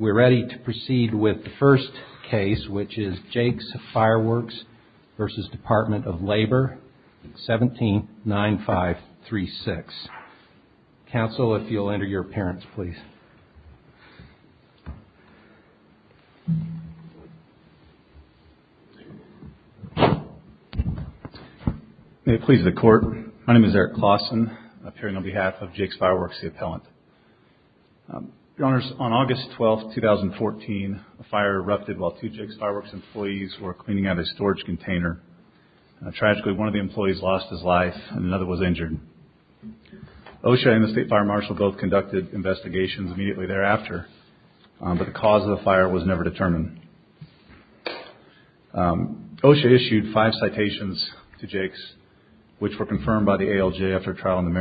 We're ready to proceed with the first case, which is Jake's Fireworks v. Department of Labor, 179536. Counsel, if you'll enter your appearance, please. May it please the court. My name is Eric Claussen, appearing on behalf of Jake's Fireworks, the appellant. Your Honors, on August 12, 2014, a fire erupted while two Jake's Fireworks employees were cleaning out a storage container. Tragically, one of the employees lost his life and another was injured. OSHA and the State Fire Marshal both conducted investigations immediately thereafter, but the cause of the fire was never determined. OSHA issued five citations to Jake's, which were confirmed by the ALJ after trial in the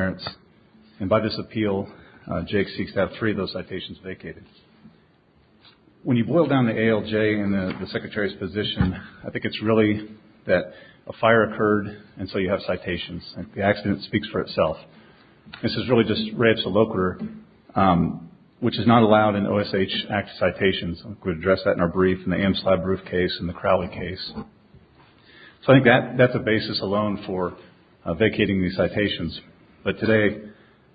When you boil down the ALJ and the Secretary's position, I think it's really that a fire occurred, and so you have citations. The accident speaks for itself. This is really just reps a loquitur, which is not allowed in OSHA Act citations. I could address that in our brief, in the AMSLAB briefcase, in the Crowley case. So I think that that's a basis alone for vacating these citations. But today,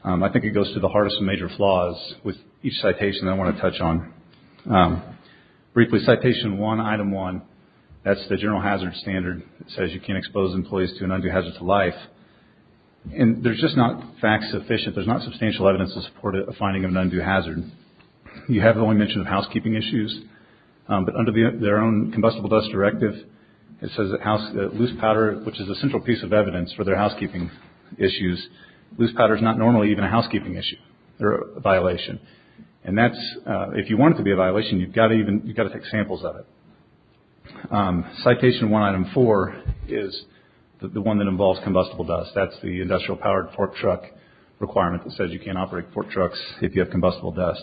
I think it goes to the heart of some major flaws with each citation I want to touch on. Briefly, citation one, item one, that's the general hazard standard. It says you can't expose employees to an undue hazard to life. And there's just not facts sufficient, there's not substantial evidence to support a finding of an undue hazard. You have the only mention of housekeeping issues, but under their own combustible dust directive, it says that loose powder, which is a central piece of evidence for their housekeeping issues, loose powder is not normally even a housekeeping issue or a violation. And that's, if you want it to be a violation, you've got to even, you've got to take samples of it. Citation one, item four, is the one that involves combustible dust. That's the industrial powered pork truck requirement that says you can't operate pork trucks if you have combustible dust.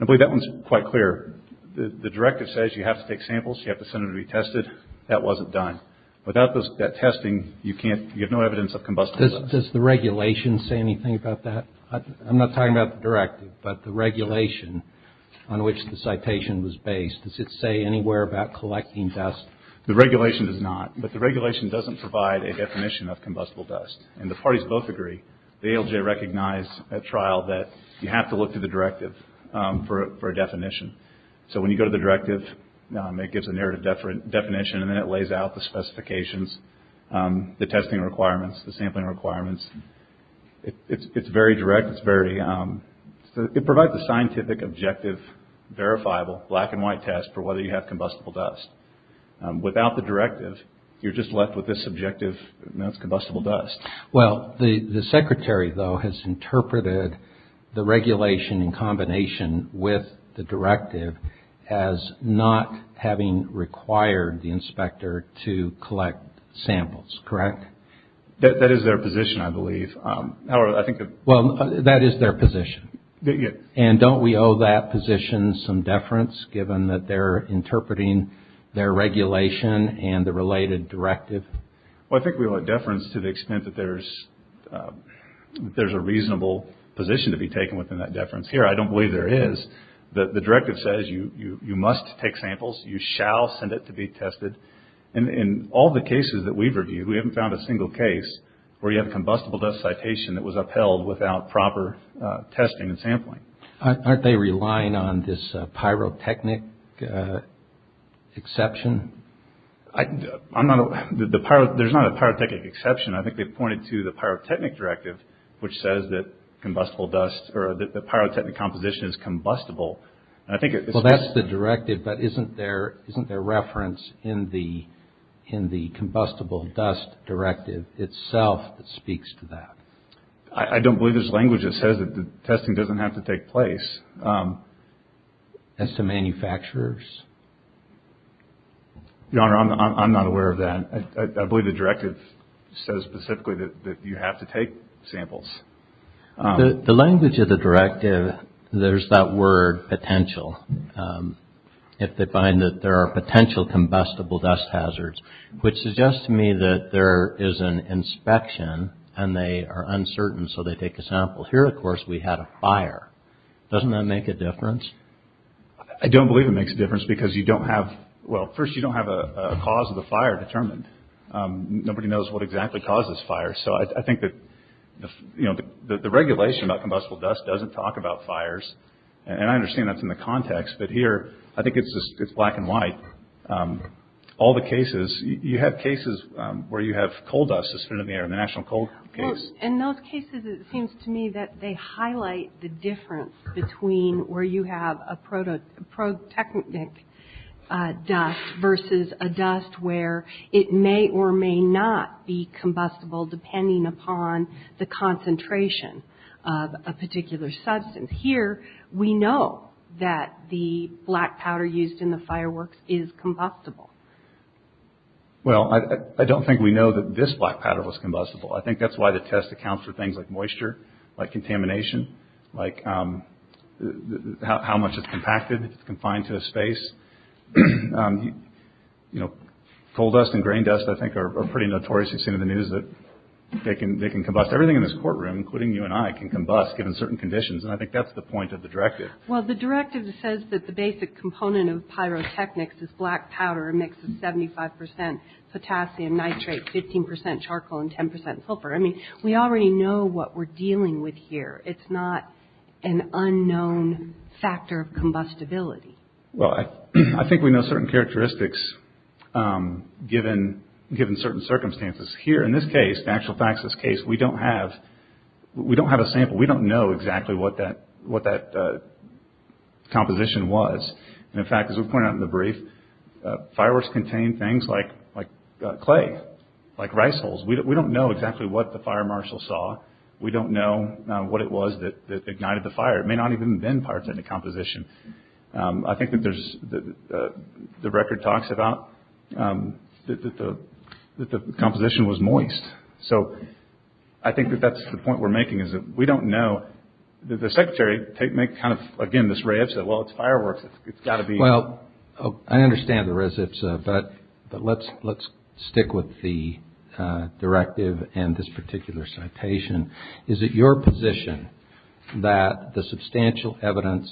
I believe that one's quite clear. The directive says you have to take samples, you have to send them to be tested. That wasn't done. Without that testing, you can't, you have no evidence. Does the regulation say anything about that? I'm not talking about the directive, but the regulation on which the citation was based, does it say anywhere about collecting dust? The regulation does not, but the regulation doesn't provide a definition of combustible dust. And the parties both agree. The ALJ recognized at trial that you have to look to the directive for a definition. So when you go to the directive, it gives a narrative definition and then it lays out the testing requirements, the sampling requirements. It's very direct. It's very, it provides a scientific objective, verifiable, black and white test for whether you have combustible dust. Without the directive, you're just left with this objective, that's combustible dust. Well, the secretary, though, has interpreted the regulation in combination with the directive as not having required the inspector to collect samples. Correct? That is their position, I believe. However, I think. Well, that is their position. And don't we owe that position some deference, given that they're interpreting their regulation and the related directive? Well, I think we owe a deference to the extent that there's a reasonable position to be taken within that deference. Here, I don't believe there is. The directive says you must take samples. You shall send it to be tested. And in all the cases that we've reviewed, we haven't found a single case where you have combustible dust citation that was upheld without proper testing and sampling. Aren't they relying on this pyrotechnic exception? I'm not, there's not a pyrotechnic exception. I think they've pointed to the pyrotechnic directive, which says that combustible dust or that the pyrotechnic composition is combustible. I think. Well, that's the directive, but isn't there, isn't there reference in the, in the combustible dust directive itself that speaks to that? I don't believe there's language that says that the testing doesn't have to take place. As to manufacturers? Your Honor, I'm not aware of that. I believe the directive says specifically that you have to take samples. The language of the directive, there's that word potential. If they find that there are potential combustible dust hazards, which suggests to me that there is an inspection and they are uncertain. So they take a sample here. Of course, we had a fire. Doesn't that make a difference? I don't believe it makes a difference because you don't have well, first, you don't have a cause of the fire determined. Nobody knows what exactly causes fire. So I think that, you know, the regulation about combustible dust doesn't talk about fires. And I understand that's in the context. But here, I think it's just it's black and white. All the cases, you have cases where you have coal dust suspended in the air in the National Coal case. In those cases, it seems to me that they highlight the difference between where you have a prototechnic dust versus a dust where it may or may not be combustible depending upon the concentration of a particular substance. Here, we know that the black powder used in the fireworks is combustible. Well, I don't think we know that this black powder was combustible. I think that's why the test accounts for things like moisture, like contamination, like how much it's compacted, confined to a space. You know, coal dust and grain dust, I think, are pretty notorious. You've seen in the news that they can they can combust everything in this courtroom, including you and I, can combust given certain conditions. And I think that's the point of the directive. Well, the directive says that the basic component of pyrotechnics is black powder. A mix of 75 percent potassium nitrate, 15 percent charcoal and 10 percent sulfur. I mean, we already know what we're dealing with here. It's not an unknown factor of combustibility. Well, I think we know certain characteristics given given certain circumstances here. In this case, the actual facts of this case, we don't have we don't have a sample. We don't know exactly what that what that composition was. And in fact, as we point out in the brief, fireworks contain things like like clay, like rice holes. We don't know exactly what the fire marshal saw. We don't know what it was that ignited the fire. It may not even have been pyrotechnic composition. I think that there's the record talks about that the that the composition was moist. So I think that that's the point we're making is that we don't know. The secretary may kind of again, this raves that, well, it's fireworks. It's got to be. Well, I understand there is. It's but but let's let's stick with the directive. And this particular citation, is it your position that the substantial evidence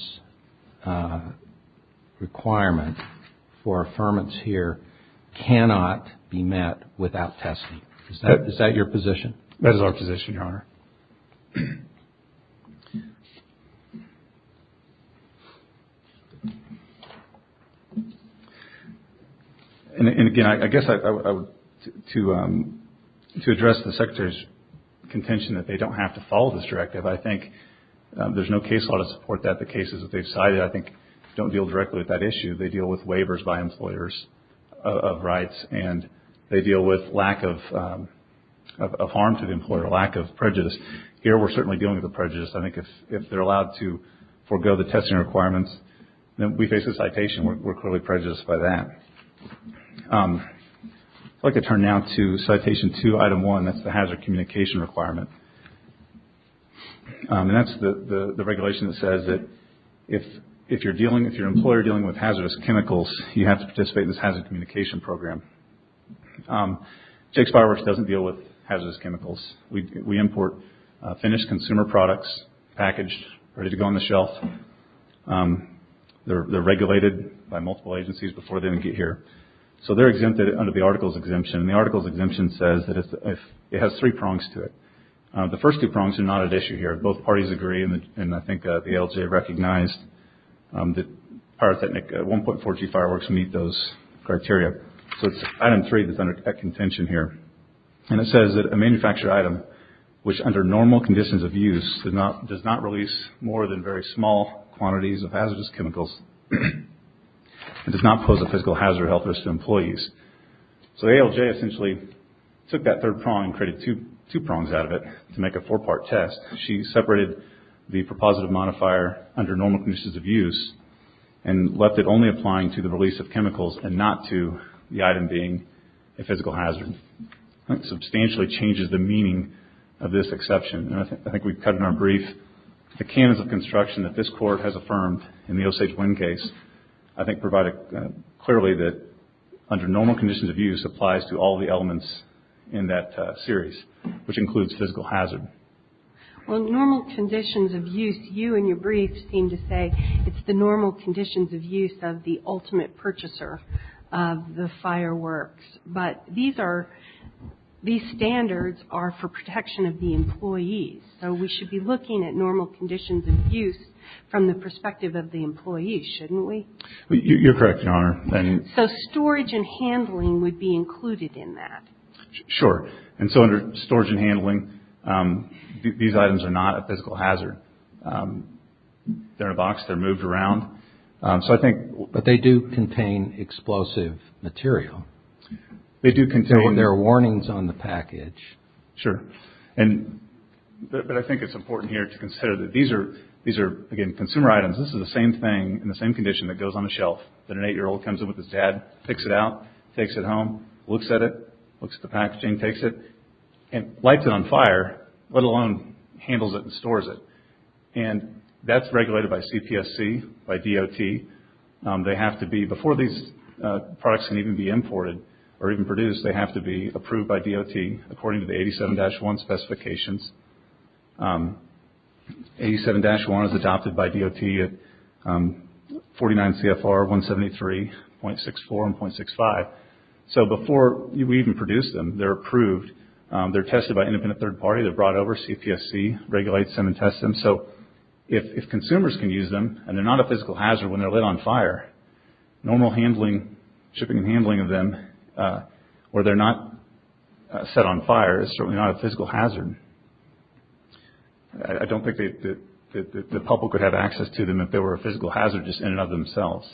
requirement for affirmance here cannot be met without testing? Is that your position? That is our position, Your Honor. And again, I guess I would to to address the secretary's contention that they don't have to follow this directive. I think there's no case law to support that. The cases that they've cited, I think, don't deal directly with that issue. They deal with waivers by employers of rights and they deal with lack of of harm to the employer, lack of prejudice. Here, we're certainly dealing with the prejudice. I think if if they're allowed to forego the testing requirements, then we face a citation. We're clearly prejudiced by that. I'd like to turn now to citation two, item one, that's the hazard communication requirement. And that's the regulation that says that if if you're dealing if your employer dealing with hazardous chemicals, you have to participate in this hazard communication program. Jake's Fireworks doesn't deal with hazardous chemicals. We import finished consumer products, packaged, ready to go on the shelf. They're regulated by multiple agencies before they get here. So they're exempted under the article's exemption. The article's exemption says that if it has three prongs to it, the first two prongs are not an issue here. Both parties agree. And I think the ALJ recognized that 1.4G fireworks meet those criteria. So it's item three that's under contention here. And it says that a manufactured item which under normal conditions of use does not does not release more than very small quantities of hazardous chemicals and does not pose a physical hazard or health risk to employees. So ALJ essentially took that third prong and created two prongs out of it to make a four part test. She separated the prepositive modifier under normal conditions of use and left it only applying to the release of chemicals and not to the item being a physical hazard. Substantially changes the meaning of this exception. I think we've cut in our brief the canons of construction that this court has affirmed in the Osage Wind case. I think provided clearly that under normal conditions of use applies to all the elements in that series which includes physical hazard. Well normal conditions of use you and your briefs seem to say it's the normal conditions of use of the ultimate purchaser of the fireworks. But these are these standards are for protection of the employees. So we should be looking at normal conditions of use from the perspective of the employee shouldn't we. You're correct Your Honor. So storage and handling would be included in that. Sure. And so under storage and handling these items are not a physical hazard. They're in a box. They're moved around. So I think but they do contain explosive material. They do contain their warnings on the package. Sure. And I think it's important here to consider that these are these are again consumer items. This is the same thing in the same condition that goes on the shelf that an eight year old comes in with his dad picks it out takes it home looks at it looks at the packaging takes it and lights it on fire let alone handles it and stores it. And that's regulated by CPSC by DOT. They have to be before these products can even be imported or even produced they have to be approved by DOT according to the 87-1 specifications. 87-1 is adopted by DOT at 49 CFR 173.64 and .65. So before we even produce them they're approved. They're tested by independent third party. They're brought over CPSC regulates them and tests them. So if consumers can use them and they're not a physical hazard when they're lit on fire normal handling shipping and handling of them where they're not set on fire is certainly not a physical hazard. I don't think that the public would have access to them if they were a physical hazard just in and of themselves.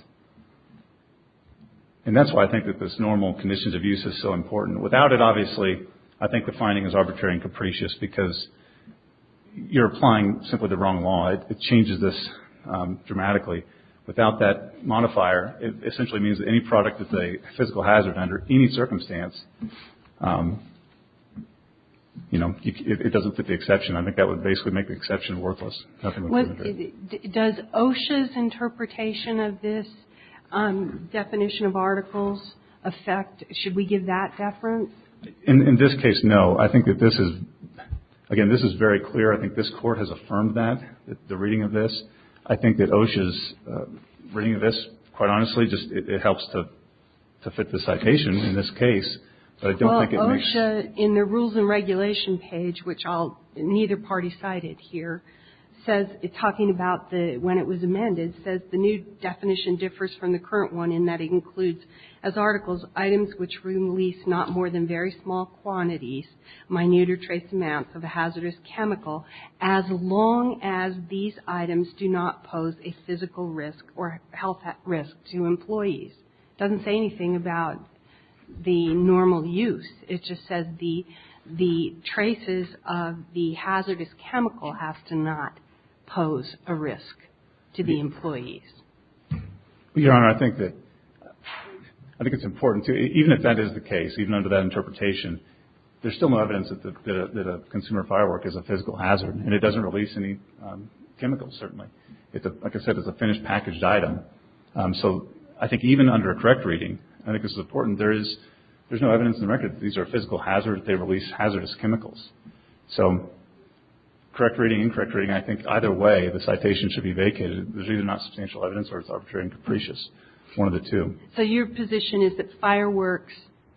And that's why I think that this normal conditions of use is so important. Without it obviously I think the finding is arbitrary and capricious because you're applying simply the wrong law. It changes this dramatically. Without that modifier it essentially means that any product that's a physical hazard under any circumstance you know it doesn't fit the exception. I think that would basically make the exception worthless. Does OSHA's interpretation of this definition of articles affect should we give that deference? In this case no. I think that this is again this is very clear. I think this Court has affirmed that the reading of this. I think that OSHA's reading of this quite honestly just it helps to fit the citation in this case. Well OSHA in the rules and regulation page which I'll neither party cited here says it's talking about the when it was amended says the new definition differs from the current one in that it includes as articles items which release not more than very small quantities, minute or trace amounts of a hazardous chemical as long as these items do not pose a physical risk or health risk to employees. Doesn't say anything about the normal use. It just says the the traces of the hazardous chemical have to not pose a risk to the employees. Your Honor I think that I think it's important to even if that is the case even under that interpretation there's still no evidence that a consumer firework is a physical hazard and it doesn't release any chemicals certainly. Like I said it's a finished packaged item. So I think even under a correct reading I think it's important there is there's no evidence in the record these are physical hazards they release hazardous chemicals. So correct reading incorrect reading I think either way the citation should be vacated. There's either not substantial evidence or it's arbitrary and capricious. One of the two. So your position is that fireworks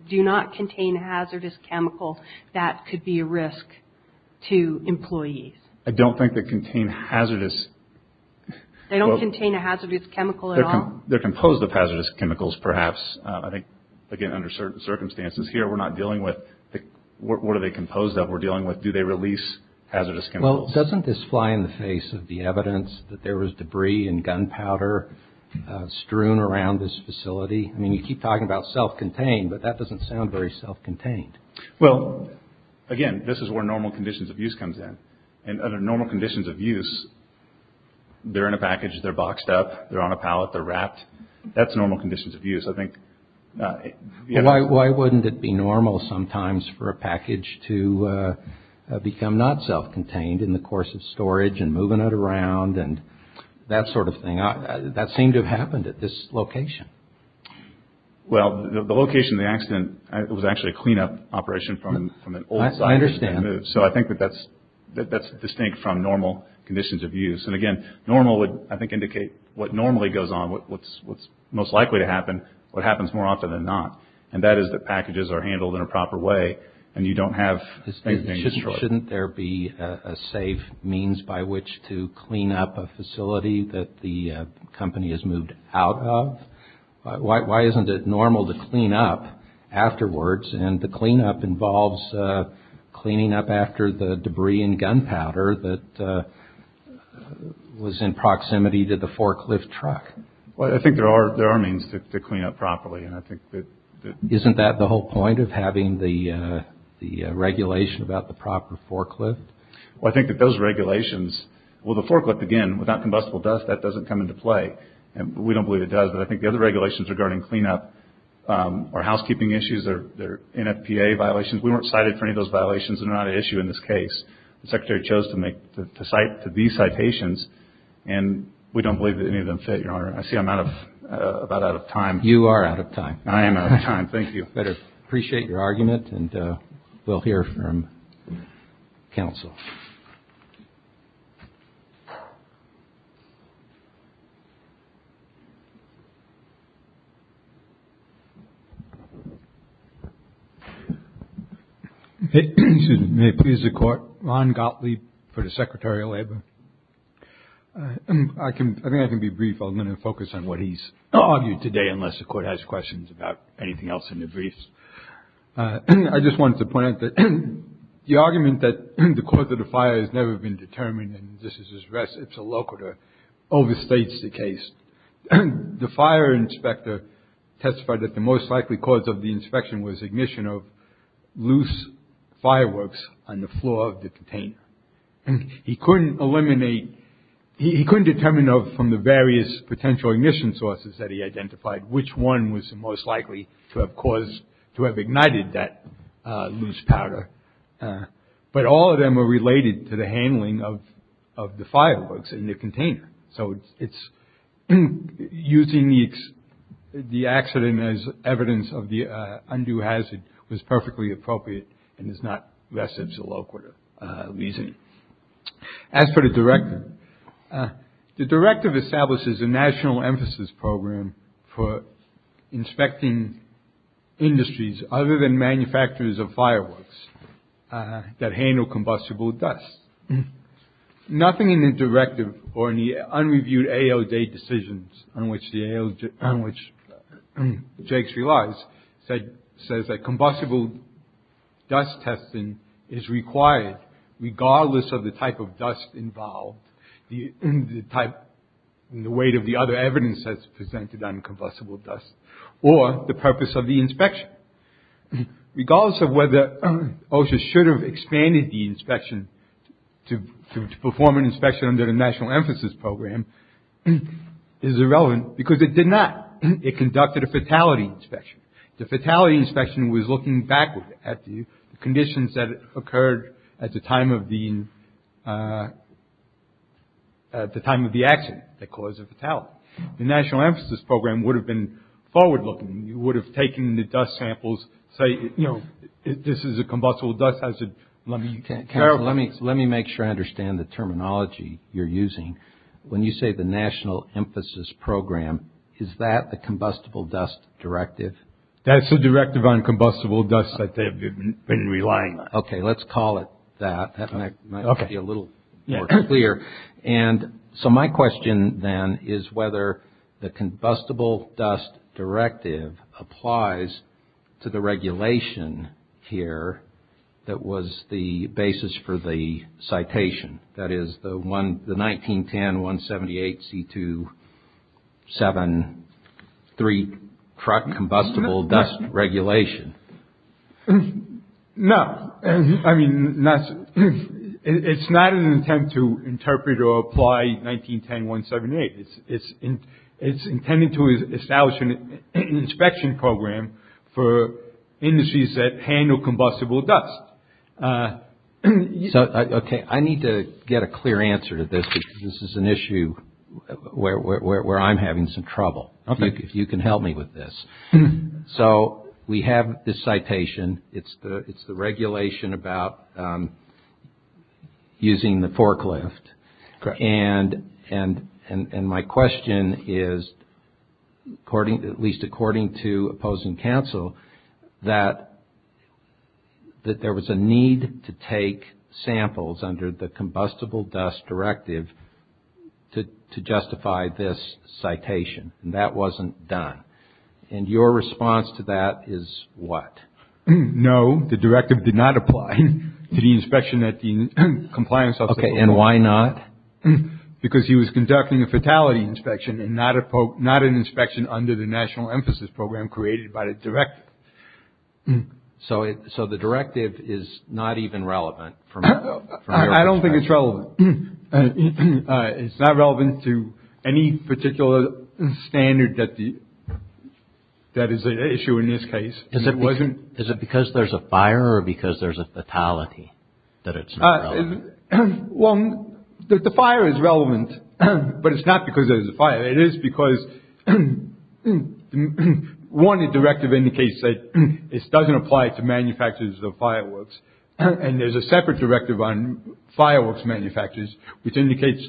do not contain hazardous chemicals that could be a risk to employees. I don't think they contain hazardous. They don't contain a hazardous chemical at all. They're composed of hazardous chemicals perhaps. I think again under certain circumstances here we're not dealing with what are they composed of we're dealing with. Do they release hazardous chemicals. Doesn't this fly in the face of the evidence that there was debris and gunpowder strewn around this facility. I mean you keep talking about self-contained but that doesn't sound very self-contained. Well again this is where normal conditions of use comes in. And under normal conditions of use they're in a package they're boxed up they're on a pallet they're wrapped that's normal conditions of use. I think why wouldn't it be normal sometimes for a package to become not self-contained in the course of storage and moving it around and that sort of thing. That seemed to have happened at this location. Well the location of the accident was actually a cleanup operation from an old site. So I think that that's that's distinct from normal conditions of use. And again normal would I think indicate what normally goes on what's what's most likely to happen what happens more often than not. And that is that packages are handled in a proper way and you don't have. Shouldn't there be a safe means by which to clean up a facility that the company has moved out of. Why isn't it normal to clean up afterwards and the cleanup involves cleaning up after the debris and gunpowder that was in proximity to the forklift truck. Well I think there are there are means to clean up properly and I think that isn't that the whole point of having the the regulation about the proper forklift. Well I think that those regulations will the forklift again without combustible dust that doesn't come into play. And we don't believe it does. But I think the other regulations regarding cleanup or housekeeping issues or NFPA violations we weren't cited for any of those violations and not an issue in this case. The secretary chose to make the site to be citations and we don't believe that any of them fit your honor. I see I'm out of about out of time. You are out of time. I am out of time. Thank you. Better appreciate your argument and we'll hear from counsel. May please the court. Ron Gottlieb for the Secretary of Labor. I can I mean I can be brief. I'm going to focus on what he's argued today unless the court has questions about anything else in the briefs. I just want to point out that the argument that the court that the fire has never been determined and this is just rest it's a locator overstates the case. The fire inspector testified that the most likely cause of the inspection was ignition of loose fireworks on the floor of the container and he couldn't eliminate he couldn't determine from the various potential ignition sources that he identified which one was most likely to have caused to have ignited that loose powder. But all of them are related to the handling of the fireworks in the container. So it's using the accident as evidence of the undue hazard was perfectly appropriate and is not rest it's a locator reason. As for the director the directive establishes a national emphasis program for inspecting industries other than manufacturers of that handle combustible dust. Nothing in the directive or any unreviewed AO day decisions on which the AO on which Jake's relies said says that combustible dust testing is required regardless of the type of dust involved in the type and the weight of the other evidence that's presented on combustible dust or the purpose of the inspection. Regardless of whether OSHA should have expanded the inspection to perform an inspection under the national emphasis program is irrelevant because it did not. It conducted a fatality inspection. The fatality inspection was looking back at the conditions that occurred at the time of the at the time of the accident that caused a fatality. The national emphasis program would have been forward looking. You would have taken the dust samples say you know this is a combustible dust hazard. Let me let me let me make sure I understand the terminology you're using when you say the national emphasis program is that the combustible dust directive. That's the directive on combustible dust that they've been relying. Okay let's call it that. Okay a little more clear. And so my question then is whether the combustible dust directive applies to the regulation here that was the basis for the citation. That is the one the 1910 178 C 2 7 3 truck combustible dust regulation. No I mean it's not an attempt to interpret or apply 1910 178 it's intended to establish an inspection program for industries that handle combustible dust. So okay I need to get a clear answer to this because this is an issue where I'm having some trouble. If you can help me with this. So we have this citation. It's the it's the regulation about using the forklift. And and and my question is according to at least according to opposing counsel that that there was a need to take samples under the combustible dust directive to justify this citation. That wasn't done. And your response to that is what. No the directive did not apply to the inspection at the compliance okay. And why not. Because he was conducting a fatality inspection and not a poke not an inspection under the national emphasis program created by the director. So so the directive is not even relevant for me. I don't think it's relevant. And it's not relevant to any particular standard that the. That is an issue in this case. Is it wasn't. Is it because there's a fire or because there's a fatality that it's. One that the fire is relevant. But it's not because there's a fire. It is because one directive indicates that this doesn't apply to manufacturers of fireworks. And there's a separate directive on fireworks manufacturers which indicates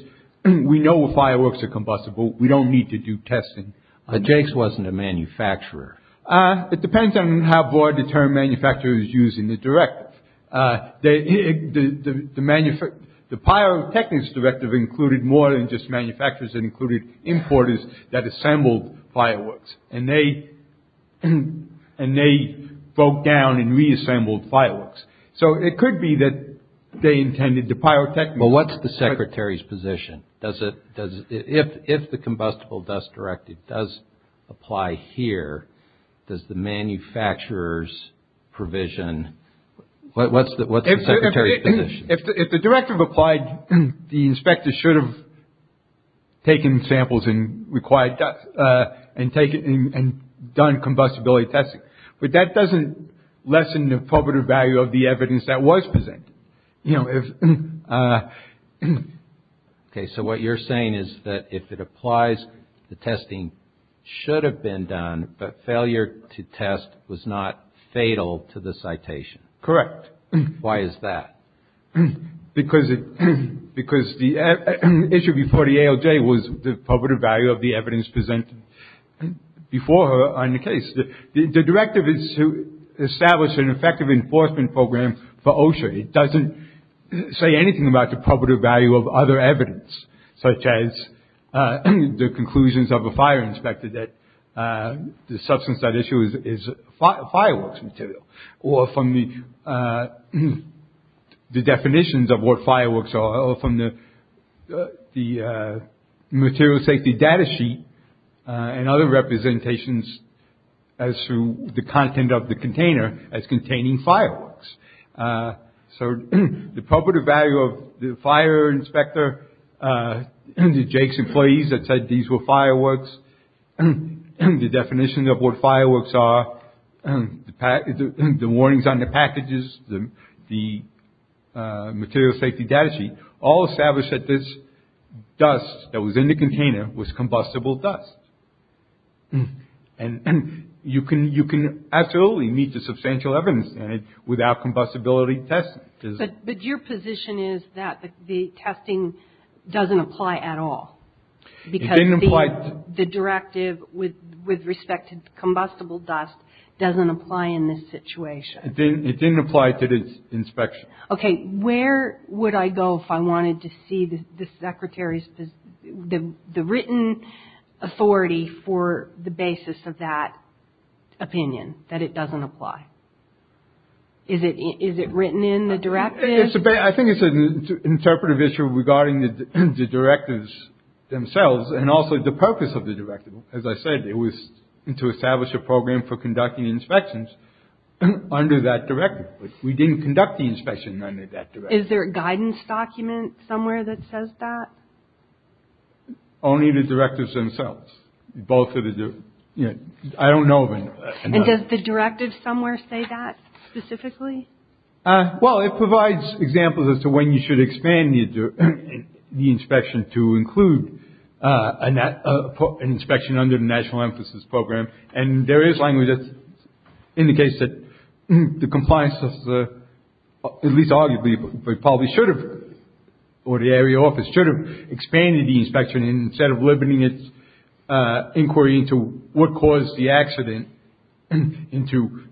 we know the fireworks are combustible. We don't need to do testing. But Jakes wasn't a manufacturer. It depends on how broad the term manufacturer is using the directive that the manufacturer the pyrotechnics directive included more than just manufacturers that included importers that assembled fireworks and they and they broke down and reassembled fireworks. So it could be that they intended to pyrotechnic. But what's the secretary's position. Does it does it if the combustible dust directive does apply here. Does the manufacturer's provision. What's the what's the secretary's position. If the directive applied the inspector should have. Taken samples and required and taken and done combustibility testing. But that doesn't lessen the probative value of the evidence that was present. You know if. OK so what you're saying is that if it applies the testing should have been done but failure to test was not fatal to the citation. Correct. Why is that. Because it is because the issue before the ALJ was the probative value of the evidence presented before on the case. The directive is to establish an effective enforcement program for OSHA. It doesn't say anything about the probative value of other evidence such as the conclusions of a fire inspector that the substance that issue is fireworks material or from the definitions of what fireworks are from the the material safety data sheet and other representations as to the content of the container as containing fireworks. So the probative value of the fire inspector and the Jake's employees that said these were fireworks and the definition of what fireworks are and the warnings on the packages the material safety data sheet all established that this dust that was in the container was combustible dust. And you can you can absolutely need to substantial evidence and without combustibility test. But your position is that the testing doesn't apply at all. Because I didn't like the directive with with respect to combustible dust doesn't apply in this situation. It didn't apply to this inspection. OK. Where would I go if I wanted to see the secretary's the written authority for the basis of that opinion that it doesn't apply. Is it is it written in the directives. I think it's an interpretive issue regarding the directives themselves and also the purpose of the directive. As I said it was to establish a program for conducting inspections under that directive. We didn't conduct the inspection under that. Is there a guidance document somewhere that says that. Only the directives themselves. Both of you. I don't know. And just the directive somewhere say that specifically. Well it provides examples as to when you should expand the inspection to include an inspection under the National Emphasis Program. And there is language that indicates that the compliance of the at least arguably we probably should have or the area office should have expanded the inspection instead of limiting its inquiry into what caused the accident. And to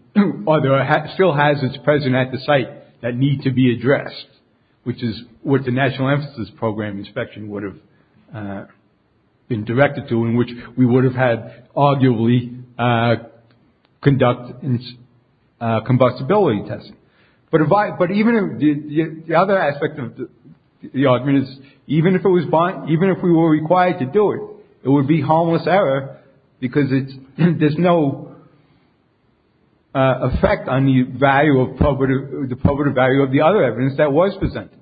other still hazards present at the site that need to be addressed which is what the National Emphasis Program inspection would have been directed to in which we would have had arguably conduct a combustibility test. But if I but even if the other aspect of the argument is even if it was fine even if we were required to do it it would be harmless error because it's there's no effect on the value of property the property value of the other evidence that was presented.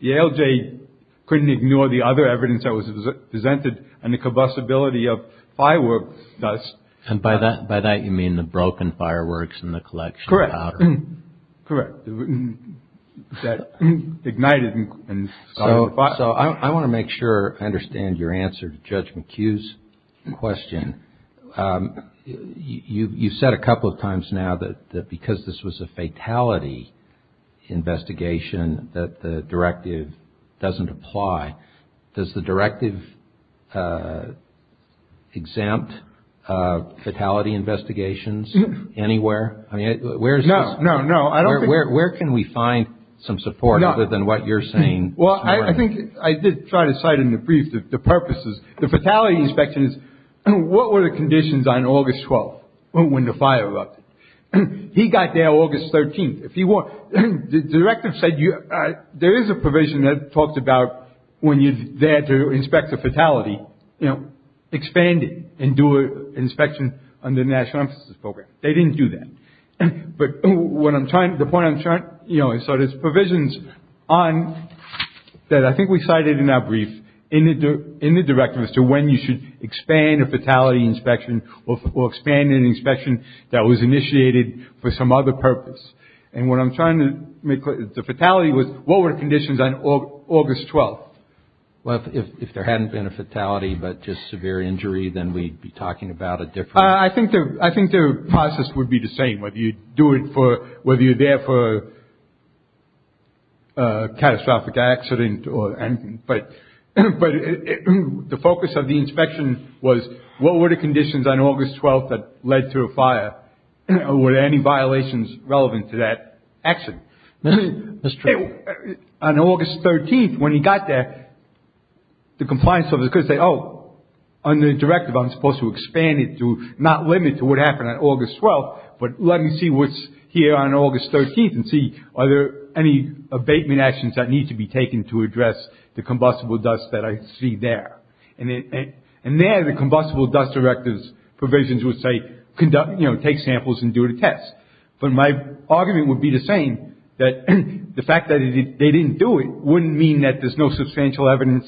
The ALJ couldn't ignore the other evidence that was presented and the combustibility of firework dust. And by that by that you mean the broken fireworks in the collection. Correct. Correct. That ignited and so I want to make sure I understand your answer to Judge McHugh's question. I mean you said a couple of times now that because this was a fatality investigation that the directive doesn't apply does the directive exempt fatality investigations anywhere. I mean where is no no no I don't know where can we find some support other than what you're saying. Well I think I did try to cite in the brief the purposes the fatality inspections and what were the conditions on August 12th when the fire erupted and he got there August 13th if you want the directive said you. There is a provision that talks about when you dare to inspect the fatality you know expanding and do an inspection on the National Emphasis Program. They didn't do that. But what I'm trying to the point I'm trying you know it's sort of provisions on that I think we cited in our brief in the in the directive as to when you should expand a fatality inspection or expand an inspection that was initiated for some other purpose. And what I'm trying to make the fatality was what were the conditions on August 12th. Well if there hadn't been a fatality but just severe injury then we'd be talking about a different. I think that I think the process would be the same whether you do it for whether you're there for a catastrophic accident or anything. But the focus of the inspection was what were the conditions on August 12th that led to a fire and were there any violations relevant to that action. Mr. On August 13th when he got there the compliance officer could say oh under the directive I'm supposed to expand it to not limit to what happened on August 12th but let me see what's here on August 13th and see are there any abatement actions that need to be taken to address the combustible dust that I see there. And then the combustible dust directives provisions would say conduct you know take samples and do a test. But my argument would be the same that the fact that they didn't do it wouldn't mean that there's no substantial evidence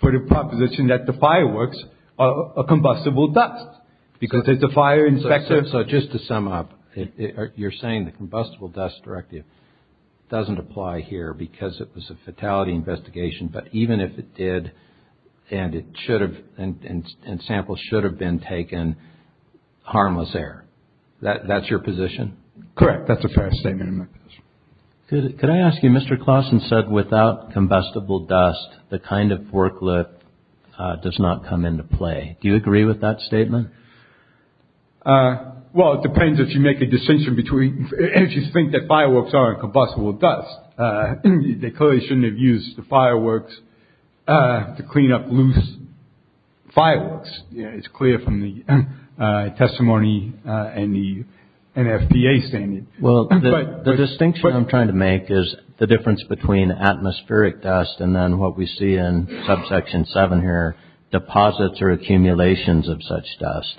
for the proposition that the fireworks are combustible dust because it's a fire inspector. So just to sum up you're saying the combustible dust directive doesn't apply here because it was a fatality investigation. But even if it did and it should have been and samples should have been taken harmless air. That's your position. Correct. That's a fair statement. Could I ask you Mr. Klassen said without combustible dust the kind of forklift does not come into play. Do you agree with that statement. Well it depends if you make a decision between if you think that fireworks are combustible dust they clearly shouldn't have used the fireworks to clean up loose fireworks. It's clear from the testimony and the NFPA standing. Well the distinction I'm trying to make is the difference between atmospheric dust and then what we see in subsection seven here deposits or accumulations of such dust.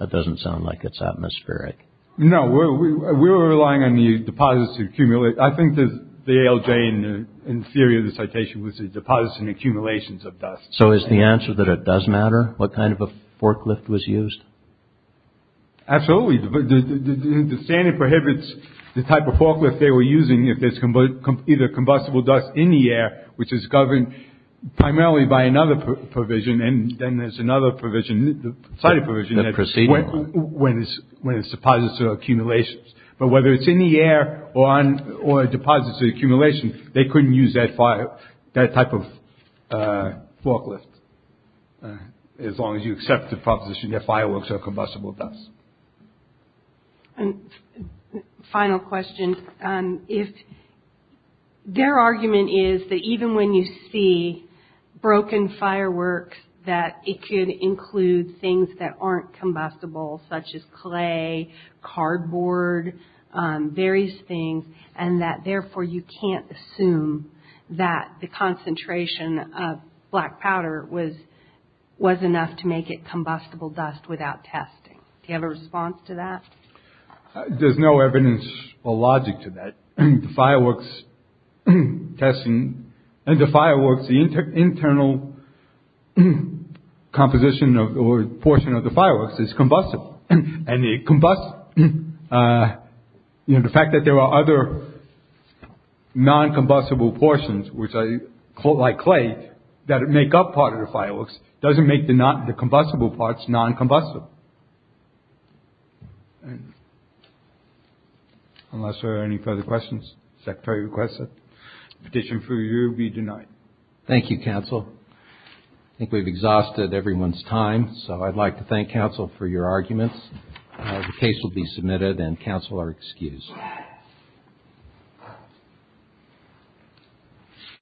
That doesn't sound like it's atmospheric. No we're relying on the deposit to accumulate. I think the ALJ in theory of the citation was a deposit and accumulations of dust. So is the answer that it does matter. What kind of a forklift was used. Absolutely. But the standard prohibits the type of forklift they were using if there's either combustible dust in the air which is governed primarily by another provision. And then there's another provision cited provision that proceed when it's when it's deposits or accumulations. But whether it's in the air or on or deposits or accumulation they couldn't use that fire that type of forklift. As long as you accept the proposition that fireworks are combustible dust. Final question. If their argument is that even when you see broken fireworks that it could include things that aren't combustible such as clay cardboard various things and that therefore you can't assume that the concentration of black powder was was enough to make it combustible dust without testing. Do you have a response to that. There's no evidence or logic to that fireworks testing and the fireworks the internal composition of the portion of the fireworks is combust. The fact that there are other non combustible portions which I quote like clay that make up part of the fireworks doesn't make the not the combustible parts non combustible. Unless there are any further questions. Secretary requests a petition for you to be denied. Thank you counsel. I think we've exhausted everyone's time. So I'd like to thank counsel for your arguments. The case will be submitted and counsel are excused.